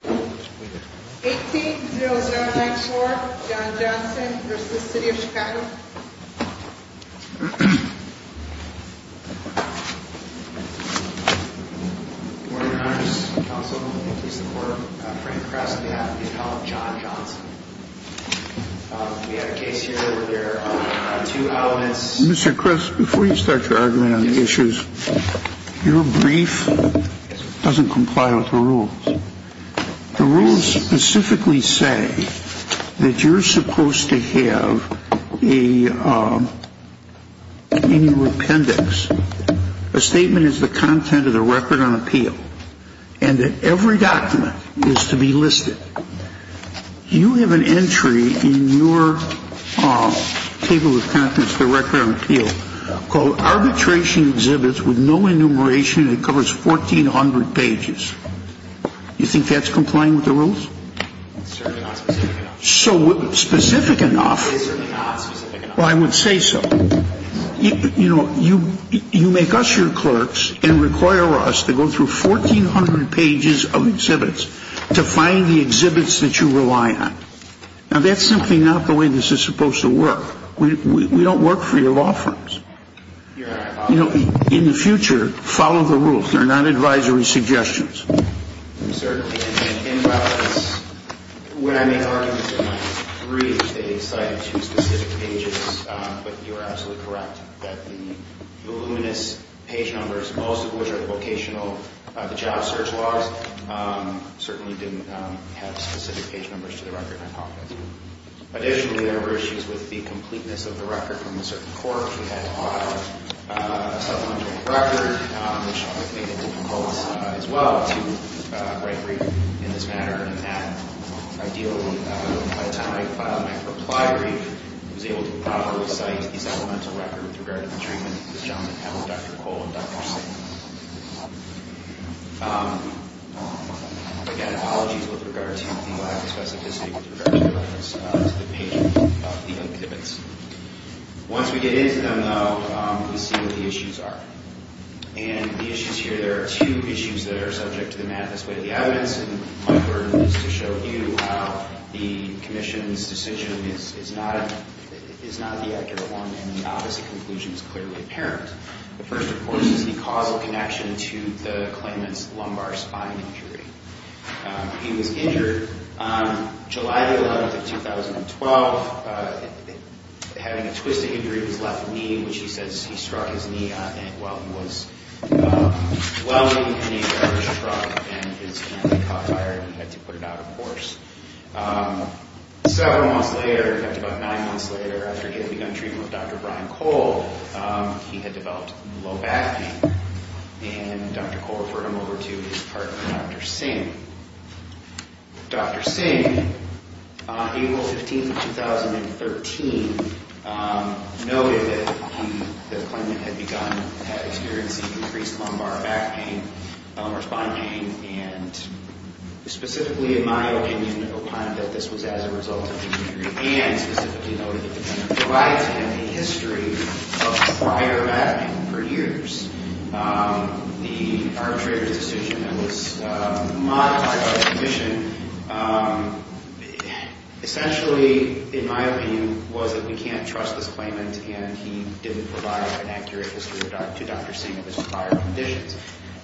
18-0-0-9-4 John Johnson v. City of Chicago Good morning, Your Honors. Councilman of the Police Department, Frank Kress, on behalf of the Apollo, John Johnson. We have a case here where there are two elements... The rules specifically say that you're supposed to have in your appendix a statement as the content of the Record on Appeal, and that every document is to be listed. You have an entry in your Table of Contents, the Record on Appeal, called Arbitration Exhibits with No Enumeration, and it covers 1,400 pages. You think that's complying with the rules? It's certainly not specific enough. Specific enough? It's certainly not specific enough. Well, I would say so. You know, you make us your clerks and require us to go through 1,400 pages of exhibits to find the exhibits that you rely on. Now, that's simply not the way this is supposed to work. We don't work for your law firms. You know, in the future, follow the rules. They're not advisory suggestions. Certainly. And, well, when I made arguments in my brief, they cited two specific pages. But you are absolutely correct that the voluminous page numbers, most of which are the vocational job search logs, certainly didn't have specific page numbers to the Record on Appeal. Additionally, there were issues with the completeness of the record from a certain court. We had to file a supplementary record, which I think made it difficult, as well, to write a brief in this manner. And that, ideally, by the time I filed my reply brief, was able to properly cite the supplemental record with regard to the treatment this gentleman had with Dr. Cole and Dr. Singh. Again, apologies with regard to the lack of specificity with regard to the records to the page of the exhibits. Once we get into them, though, we see what the issues are. And the issues here, there are two issues that are subject to the manifest way of the evidence. And my burden is to show you how the Commission's decision is not the accurate one, and the opposite conclusion is clearly apparent. The first, of course, is the causal connection to the claimant's lumbar spine injury. He was injured on July the 11th of 2012. Having a twisting injury of his left knee, which he says he struck his knee on while he was dwelling in a garbage truck. And his hand caught fire, and he had to put it out of course. Several months later, in fact about nine months later, after he had begun treatment with Dr. Brian Cole, he had developed low back pain. And Dr. Cole referred him over to his partner, Dr. Singh. Dr. Singh, on April 15th of 2013, noted that the claimant had begun experiencing increased lumbar back pain or spine pain. And specifically, in my opinion, opined that this was as a result of injury. And specifically noted that the claimant provides him a history of prior back pain for years. The arbitrator's decision that was modified by the Commission, essentially, in my opinion, was that we can't trust this claimant. And he didn't provide an accurate history to Dr. Singh of his prior conditions.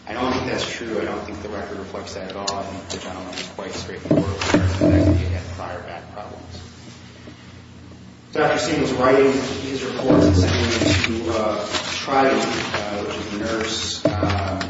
I don't think that's true. I don't think the record reflects that at all. I think the gentleman was quite straightforward about the fact that he had prior back problems. Dr. Singh was writing his reports and sending them to Trident, which is a nurse that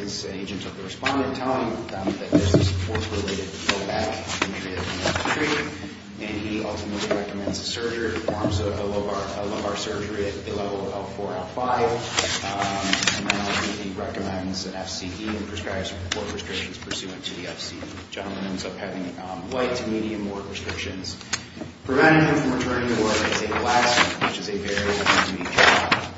is an agent of the respondent. Telling them that there's this force-related low back injury that we need to treat. And he ultimately recommends a surgery, performs a lumbar surgery at the level of L4, L5. And then ultimately recommends an FCE and prescribes four restrictions pursuant to the FCE. And the gentleman ends up having light to medium work restrictions. Preventing him from returning to work is a last resort, which is a very intermediate job.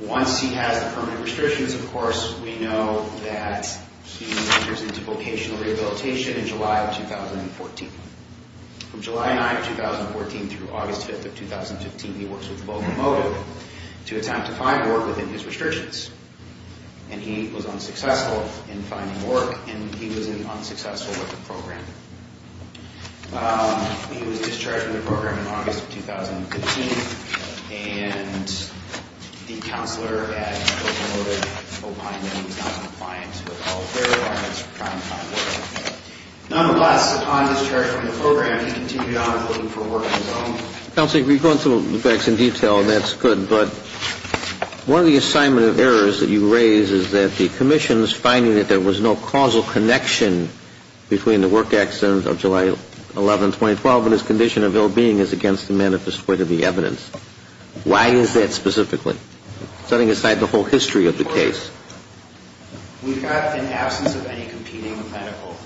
Once he has the permanent restrictions, of course, we know that he enters into vocational rehabilitation in July of 2014. From July 9th, 2014 through August 5th of 2015, he works with Vocal Modem to attempt to find work within his restrictions. And he was unsuccessful in finding work, and he was unsuccessful with the program. He was discharged from the program in August of 2015, and the counselor at Vocal Modem opined that he was not compliant with all of their requirements for trying to find work. Nonetheless, upon discharge from the program, he continued on looking for work on his own. Counselor, you've gone through the facts in detail, and that's good. But one of the assignment of errors that you raise is that the commission is finding that there was no causal connection between the work accident of July 11, 2012 and his condition of ill-being is against the manifest word of the evidence. Why is that specifically, setting aside the whole history of the case? We've got, in absence of any competing medical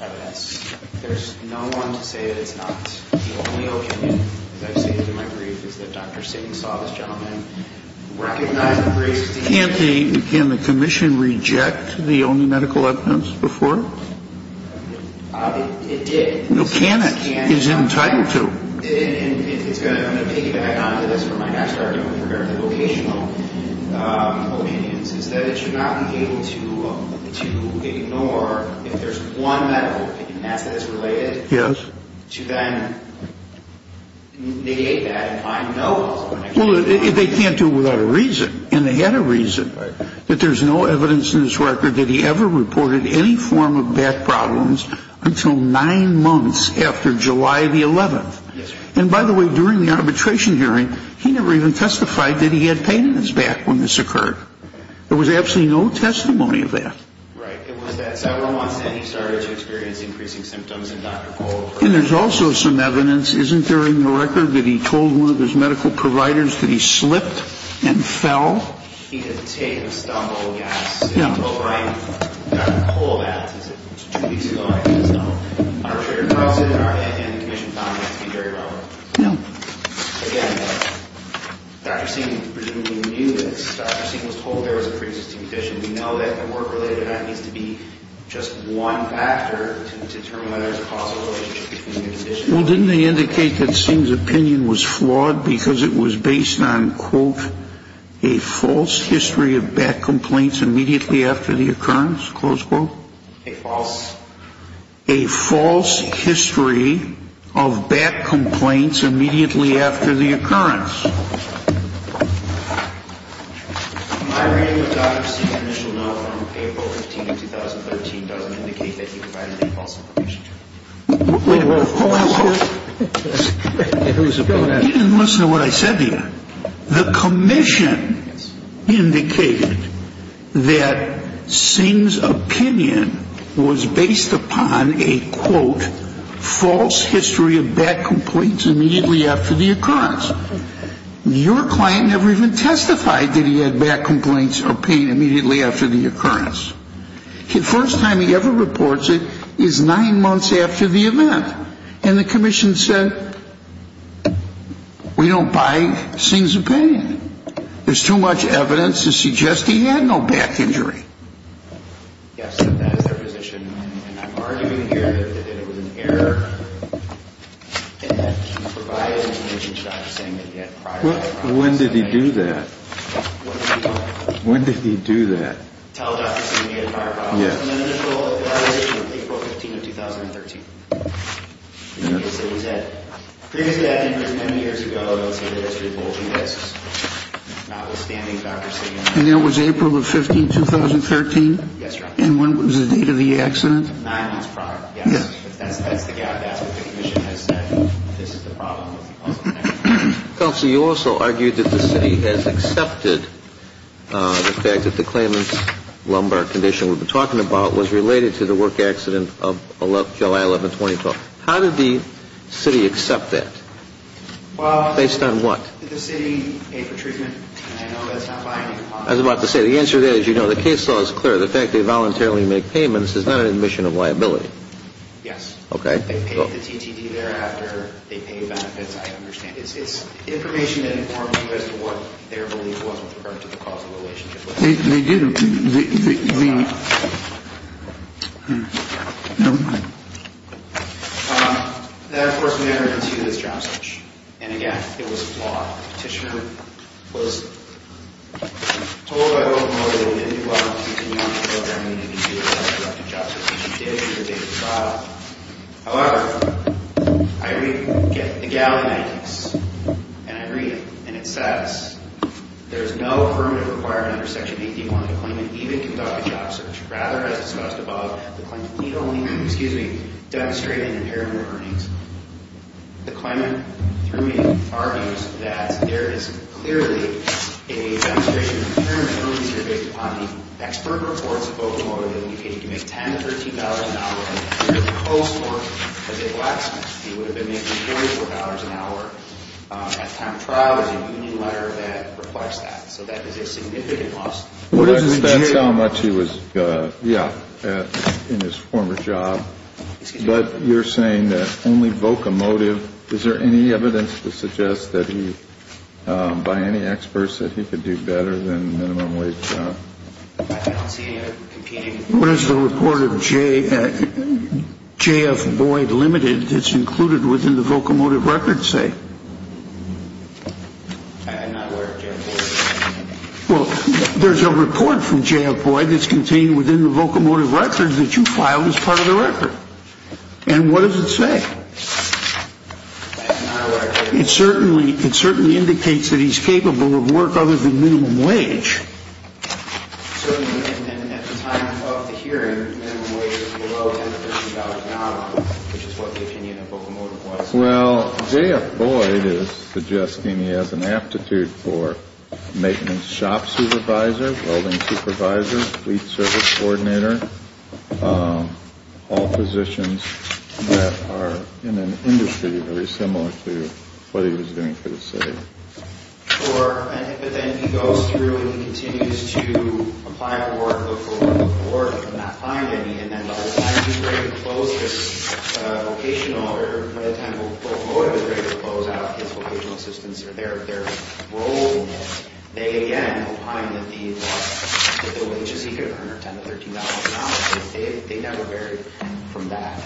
evidence, there's no one to say that it's not. The only opinion, as I've stated in my brief, is that Dr. Sink saw this gentleman, recognized the brief. Can't the commission reject the only medical evidence before? It did. No, can it? It's entitled to. I'm going to piggyback onto this for my next argument with regard to vocational opinions, is that it should not be able to ignore if there's one medical opinion that's related to then negate that and find no causal connection. Well, they can't do it without a reason, and they had a reason. But there's no evidence in this record that he ever reported any form of back problems until nine months after July the 11th. And, by the way, during the arbitration hearing, he never even testified that he had pain in his back when this occurred. There was absolutely no testimony of that. Right. It was at several months that he started to experience increasing symptoms, and Dr. Cole heard about it. And there's also some evidence, isn't there, in the record, that he told one of his medical providers that he slipped and fell? He had taken a stumble and gasped. Yeah. He told Dr. Cole that two weeks ago. And the commission found that to be very relevant. Yeah. Again, Dr. Singh presumably knew this. Dr. Singh was told there was a pre-existing condition. We know that the work-related act needs to be just one factor to determine whether there's a causal relationship between the conditions. Well, didn't they indicate that Singh's opinion was flawed because it was based on, quote, a false history of back complaints immediately after the occurrence, close quote? A false? A false history of back complaints immediately after the occurrence. My reading of Dr. Singh's initial note from April 15, 2013, doesn't indicate that he provided any false information. He didn't listen to what I said to him. The commission indicated that Singh's opinion was based upon a, quote, false history of back complaints immediately after the occurrence. Your client never even testified that he had back complaints or pain immediately after the occurrence. The first time he ever reports it is nine months after the event. And the commission said, we don't buy Singh's opinion. There's too much evidence to suggest he had no back injury. Yes, that is their position. And I'm arguing here that it was an error and that he provided information to Dr. Singh that he had prior to the occurrence. When did he do that? When did he do that? I can't tell Dr. Singh he had prior problems. His initial evaluation was April 15 of 2013. Previously, I think it was many years ago, I don't see that as revolting. That's notwithstanding Dr. Singh. And that was April 15, 2013? Yes, Your Honor. And when was the date of the accident? Nine months prior, yes. That's the gap. That's what the commission has said. This is the problem with false information. Counsel, you also argued that the city has accepted the fact that the claimant's lumbar condition we've been talking about was related to the work accident of July 11, 2012. How did the city accept that? Based on what? Did the city pay for treatment? I know that's not by any cost. I was about to say, the answer is, you know, the case law is clear. The fact they voluntarily make payments is not an admission of liability. Yes. Okay. The fact that they paid the TTT thereafter, they paid benefits, I understand. It's information that informs you as to what their belief was with regard to the cause of the relationship. They do. That, of course, mattered to this job search. And, again, it was flawed. Petitioner was told I wouldn't know what he didn't do well. He didn't know what I needed to do about the job search. He did. He was able to file. However, I read the Gallon Act. And I read it. And it says, there's no affirmative requirement under Section 81 to claim and even conduct a job search. Rather, as discussed above, the claimant need only, excuse me, demonstrate an impairment or earnings. The claimant, through me, argues that there is clearly a demonstration of impairment or earnings that are based upon the expert reports of Oklahoma that indicated he could make $10,000 to $13,000 an hour. If he proposed more, as a blacksmith, he would have been making $44 an hour. At the time of trial, there's a union letter that reflects that. So that is a significant loss. That's how much he was, yeah, in his former job. But you're saying that only vocomotive. Is there any evidence to suggest that he, by any experts, that he could do better than minimum wage job? What does the report of J.F. Boyd Limited that's included within the vocomotive record say? I'm not aware of J.F. Boyd. Well, there's a report from J.F. Boyd that's contained within the vocomotive record that you filed as part of the record. And what does it say? It certainly indicates that he's capable of work other than minimum wage. So at the time of the hearing, minimum wage was below $10,000 an hour, which is what the opinion of vocomotive was. Well, J.F. Boyd is suggesting he has an aptitude for maintenance shop supervisor, building supervisor, fleet service coordinator, all positions that are in an industry very similar to what he was doing for the city. Sure. But then he goes through and he continues to apply for work before he can find any. And then by the time he's ready to close his vocational or by the time vocomotive is ready to close out his vocational assistants or their role, they again will find that the wages he could have earned are $10 to $13 an hour. They never varied from that.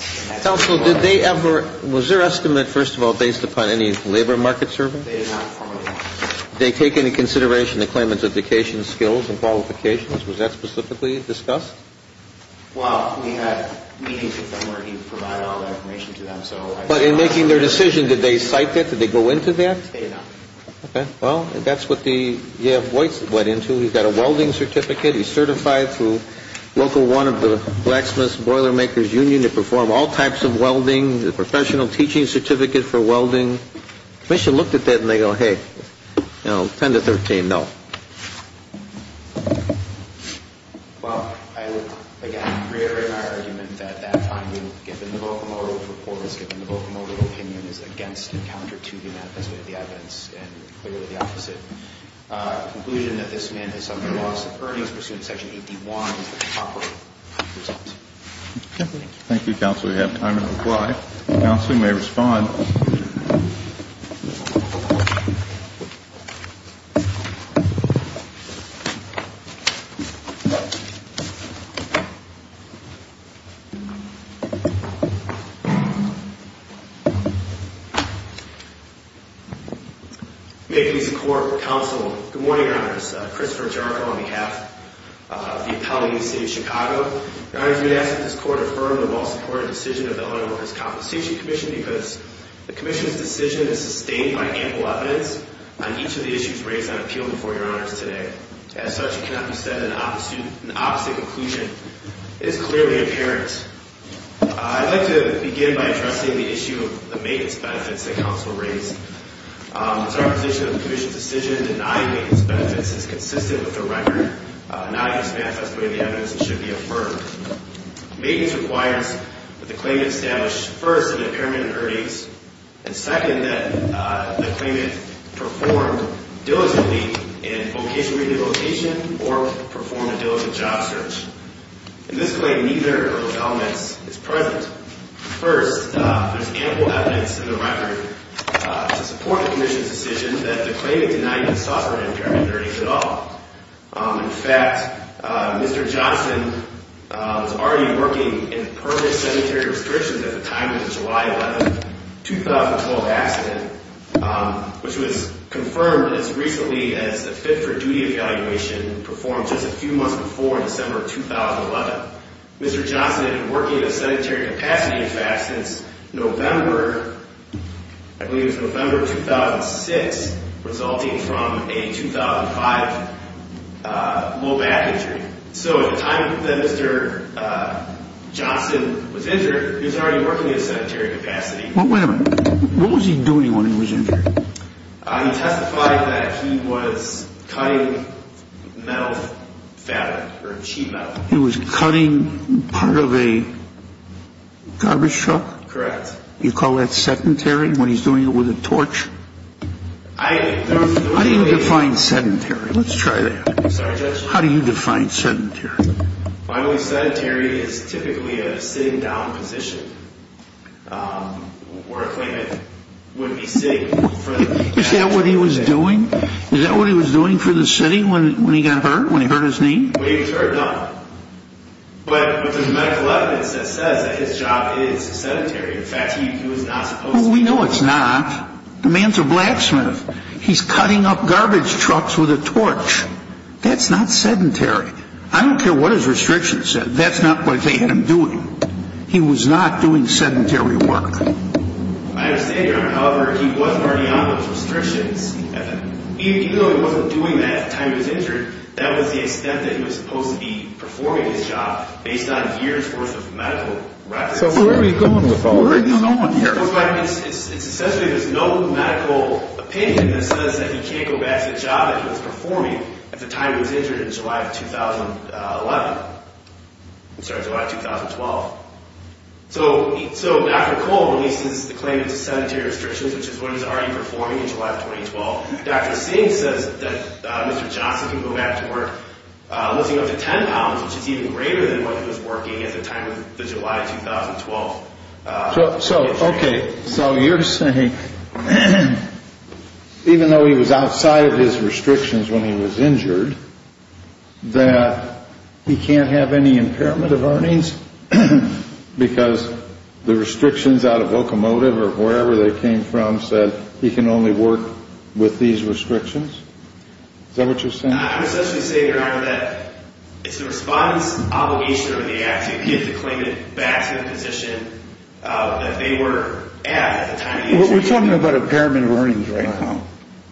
Counsel, did they ever – was their estimate, first of all, based upon any labor market survey? They did not formally – Did they take into consideration the claimants' education skills and qualifications? Was that specifically discussed? Well, we had meetings with them where he provided all that information to them, so – But in making their decision, did they cite that? Did they go into that? They did not. Okay. Well, that's what the – J.F. Boyd went into. He's got a welding certificate. He's certified through Local 1 of the Blacksmiths Boilermakers Union to perform all types of welding, the professional teaching certificate for welding. Commission looked at that and they go, hey, you know, $10 to $13, no. Well, I would, again, reiterate my argument that that finding, given the vocomotive report, given the vocomotive opinion, is against and counter to the amendment of the evidence and clearly the opposite. Conclusion that this man is under loss of earnings pursuant to Section 81 is the top result. Okay. Thank you. Thank you, Counsel. We have time to reply. Counsel may respond. May it please the Court, Counsel. Good morning, Your Honor. This is Christopher Jericho on behalf of the Apollo U.C. of Chicago. Your Honor, we ask that this Court affirm the well-supported decision of the Eleanor Wilkerson Compensation Commission because the Commission's decision is sustained by ample evidence on each of the issues raised on appeal before Your Honors today. As such, it cannot be said that an opposite conclusion is clearly apparent. I'd like to begin by addressing the issue of the maintenance benefits that Counsel raised. It's our position that the Commission's decision denying maintenance benefits is consistent with the record, not against manifestly of the evidence that should be affirmed. Maintenance requires that the claimant establish, first, an impairment in earnings, and second, that the claimant performed diligently in vocation renegotiation or performed a diligent job search. In this claim, neither of those elements is present. First, there's ample evidence in the record to support the Commission's decision that the claimant did not even suffer an impairment in earnings at all. In fact, Mr. Johnson was already working in permanent sedentary restrictions at the time of the July 11, 2012 accident, which was confirmed as recently as the fit-for-duty evaluation performed just a few months before in December of 2011. Mr. Johnson had been working in a sedentary capacity, in fact, since November, I believe it was November of 2006, resulting from a 2005 low back injury. So at the time that Mr. Johnson was injured, he was already working in a sedentary capacity. Well, wait a minute. What was he doing when he was injured? He testified that he was cutting metal fabric or cheap metal. He was cutting part of a garbage truck? Correct. You call that sedentary when he's doing it with a torch? How do you define sedentary? Let's try that. Sorry, Judge? How do you define sedentary? Finally, sedentary is typically a sitting down position where a claimant would be sitting. Is that what he was doing? Is that what he was doing for the sitting when he got hurt, when he hurt his knee? Well, we know it's not. The man's a blacksmith. He's cutting up garbage trucks with a torch. That's not sedentary. I don't care what his restrictions said. That's not what they had him doing. He was not doing sedentary work. I understand, Your Honor. However, he wasn't already on those restrictions. Even though he wasn't doing that at the time he was injured, that was the extent that he was supposed to be performing his job based on years worth of medical records. So where are we going with all this? It's essentially there's no medical opinion that says that he can't go back to the job that he was performing at the time he was injured in July of 2011. Sorry, July of 2012. So Dr. Cole releases the claim of sedentary restrictions, which is what he's already performing in July of 2012. Dr. Singh says that Mr. Johnson can go back to work lifting up to 10 pounds, which is even greater than what he was working at the time of the July of 2012. So, okay, so you're saying even though he was outside of his restrictions when he was injured, that he can't have any impairment of earnings because the restrictions out of locomotive or wherever they came from said he can only work with these restrictions? Is that what you're saying? I would essentially say, Your Honor, that it's the respondent's obligation or the act to give the claimant back to the position that they were at at the time of the injury. We're talking about impairment of earnings right now.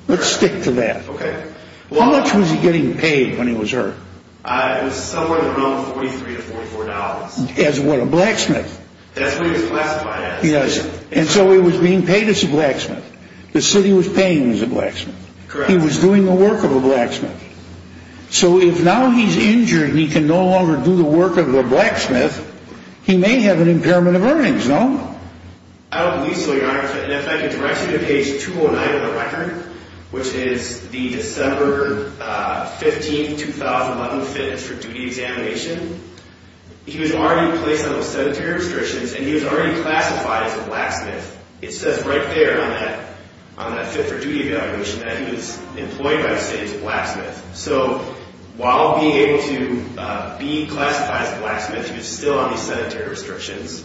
Let's stick to that. Okay. How much was he getting paid when he was hurt? It was somewhere around $43 to $44. As what, a blacksmith? That's what he was classified as. Yes, and so he was being paid as a blacksmith. The city was paying him as a blacksmith. Correct. He was doing the work of a blacksmith. So if now he's injured and he can no longer do the work of a blacksmith, he may have an impairment of earnings, no? I don't believe so, Your Honor. And if I can direct you to page 209 of the record, which is the December 15, 2011 fitness for duty examination, he was already placed under sedentary restrictions and he was already classified as a blacksmith. It says right there on that fit for duty evaluation that he was employed by the state as a blacksmith. So while being able to be classified as a blacksmith, he was still under sedentary restrictions. Is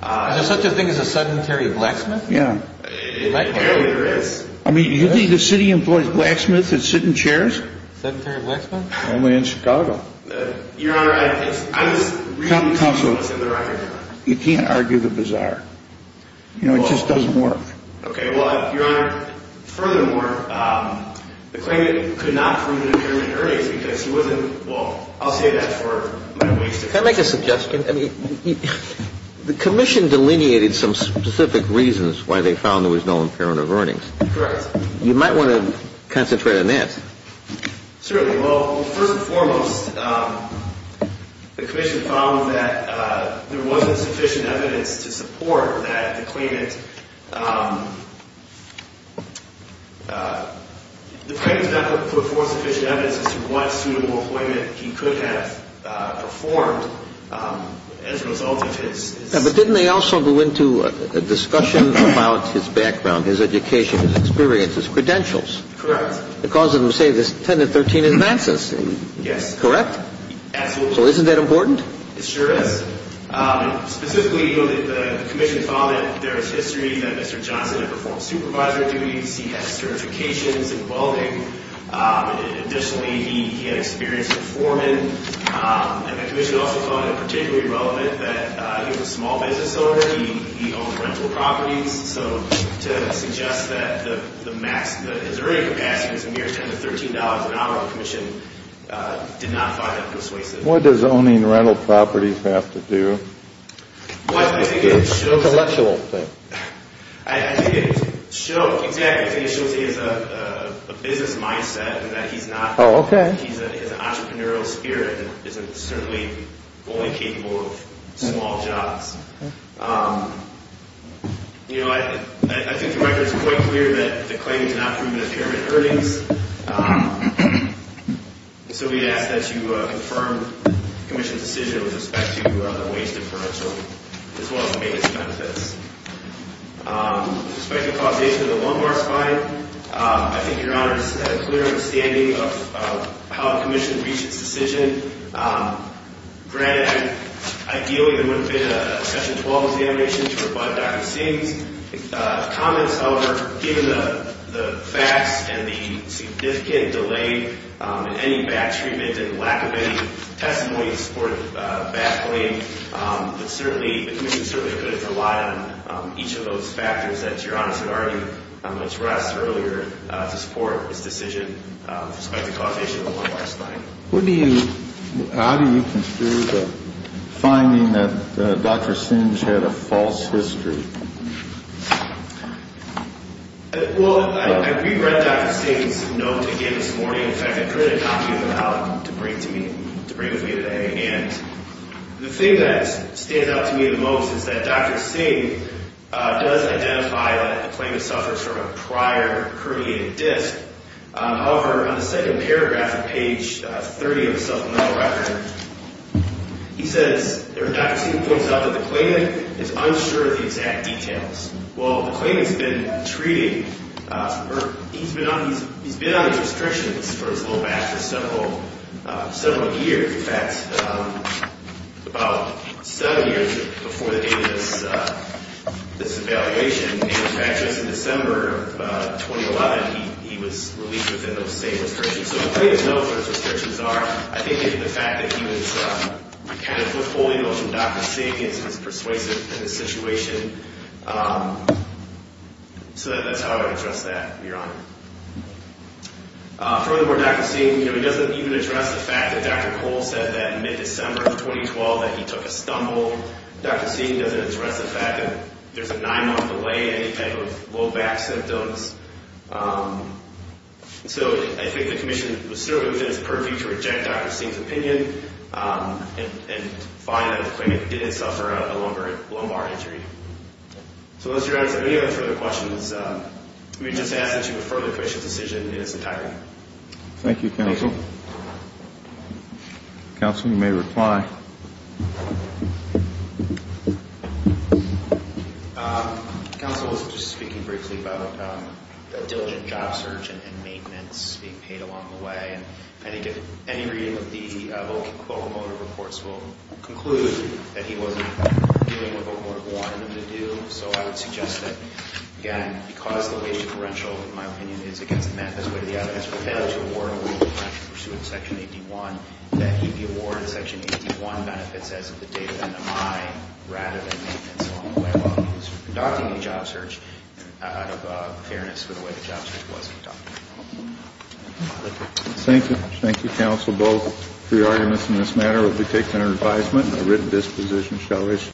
there such a thing as a sedentary blacksmith? Yeah. Apparently there is. I mean, you think the city employs blacksmiths that sit in chairs? Sedentary blacksmiths? Only in Chicago. Your Honor, I was reading some notes in the record. You can't argue the bizarre. You know, it just doesn't work. Okay, well, Your Honor, furthermore, the claimant could not prove an impairment of earnings because he wasn't, well, I'll say that for my waste of time. Can I make a suggestion? I mean, the commission delineated some specific reasons why they found there was no impairment of earnings. Correct. You might want to concentrate on that. Certainly. Well, first and foremost, the commission found that there wasn't sufficient evidence to support that the claimant, the claimant did not put forth sufficient evidence as to what suitable employment he could have performed as a result of his. But didn't they also go into a discussion about his background, his education, his experiences, credentials? Correct. The cause of them say this 10 to 13 advances. Yes. Correct? Absolutely. So isn't that important? It sure is. Specifically, the commission found that there is history that Mr. Johnson had performed supervisor duties, he had certifications in welding. Additionally, he had experience in foreman. And the commission also found it particularly relevant that he was a small business owner, he owned rental properties. So to suggest that the max, his earning capacity was near 10 to $13 an hour, the commission did not find that persuasive. What does owning rental properties have to do with intellectual things? I think it shows, exactly, I think it shows he has a business mindset and that he's not, he has an entrepreneurial spirit and isn't certainly only capable of small jobs. I think the record is quite clear that the claimant did not prove an impairment in earnings. So we ask that you confirm the commission's decision with respect to the wage differential as well as the maintenance benefits. With respect to causation of the lumbar spine, I think Your Honor has a clear understanding of how the commission reached its decision. Granted, ideally there would have been a session 12 examination to provide Dr. Singh's comments. However, given the facts and the significant delay in any back treatment and lack of any testimony to support back blame, the commission certainly couldn't rely on each of those factors that Your Honor had already addressed earlier to support his decision with respect to causation of the lumbar spine. How do you construe the finding that Dr. Singh had a false history? Well, I reread Dr. Singh's note again this morning. In fact, I printed a copy of it out to bring with me today. And the thing that stands out to me the most is that Dr. Singh does identify that the claimant suffers from a prior herniated disc. However, on the second paragraph of page 30 of the supplemental record, he says, or Dr. Singh points out that the claimant is unsure of the exact details. Well, the claimant's been treated, or he's been on these restrictions for his low back for several years. In fact, about seven years before the date of this evaluation, and in fact, just in December of 2011, he was released within those same restrictions. So the claimant knows what his restrictions are. I think the fact that he was kind of withholding those from Dr. Singh is persuasive in this situation. So that's how I would address that, Your Honor. Furthermore, Dr. Singh, you know, he doesn't even address the fact that Dr. Cole said that in mid-December of 2012 that he took a stumble. Dr. Singh doesn't address the fact that there's a nine-month delay, any type of low back symptoms. So I think the commission was certainly within its purview to reject Dr. Singh's opinion and find that the claimant didn't suffer a lumbar injury. So those are your answers. Any other further questions? Let me just ask that you refer the commission's decision in its entirety. Thank you, Counsel. Counsel, you may reply. Counsel, I was just speaking briefly about the diligent job search and maintenance being paid along the way. And I think any reading of the locomotive reports will conclude that he wasn't doing what the locomotive wanted him to do. So I would suggest that, again, because the wage differential, in my opinion, is against the manifest way of the evidence, but then to award a wage differential pursuant to Section 81, that he be awarded Section 81 benefits as of the date of NMI rather than maintenance along the way while he was conducting the job search out of fairness for the way the job search was conducted. Thank you. Thank you, Counsel. Both pre-arguments in this matter will be taken under advisement and a written disposition shall issue.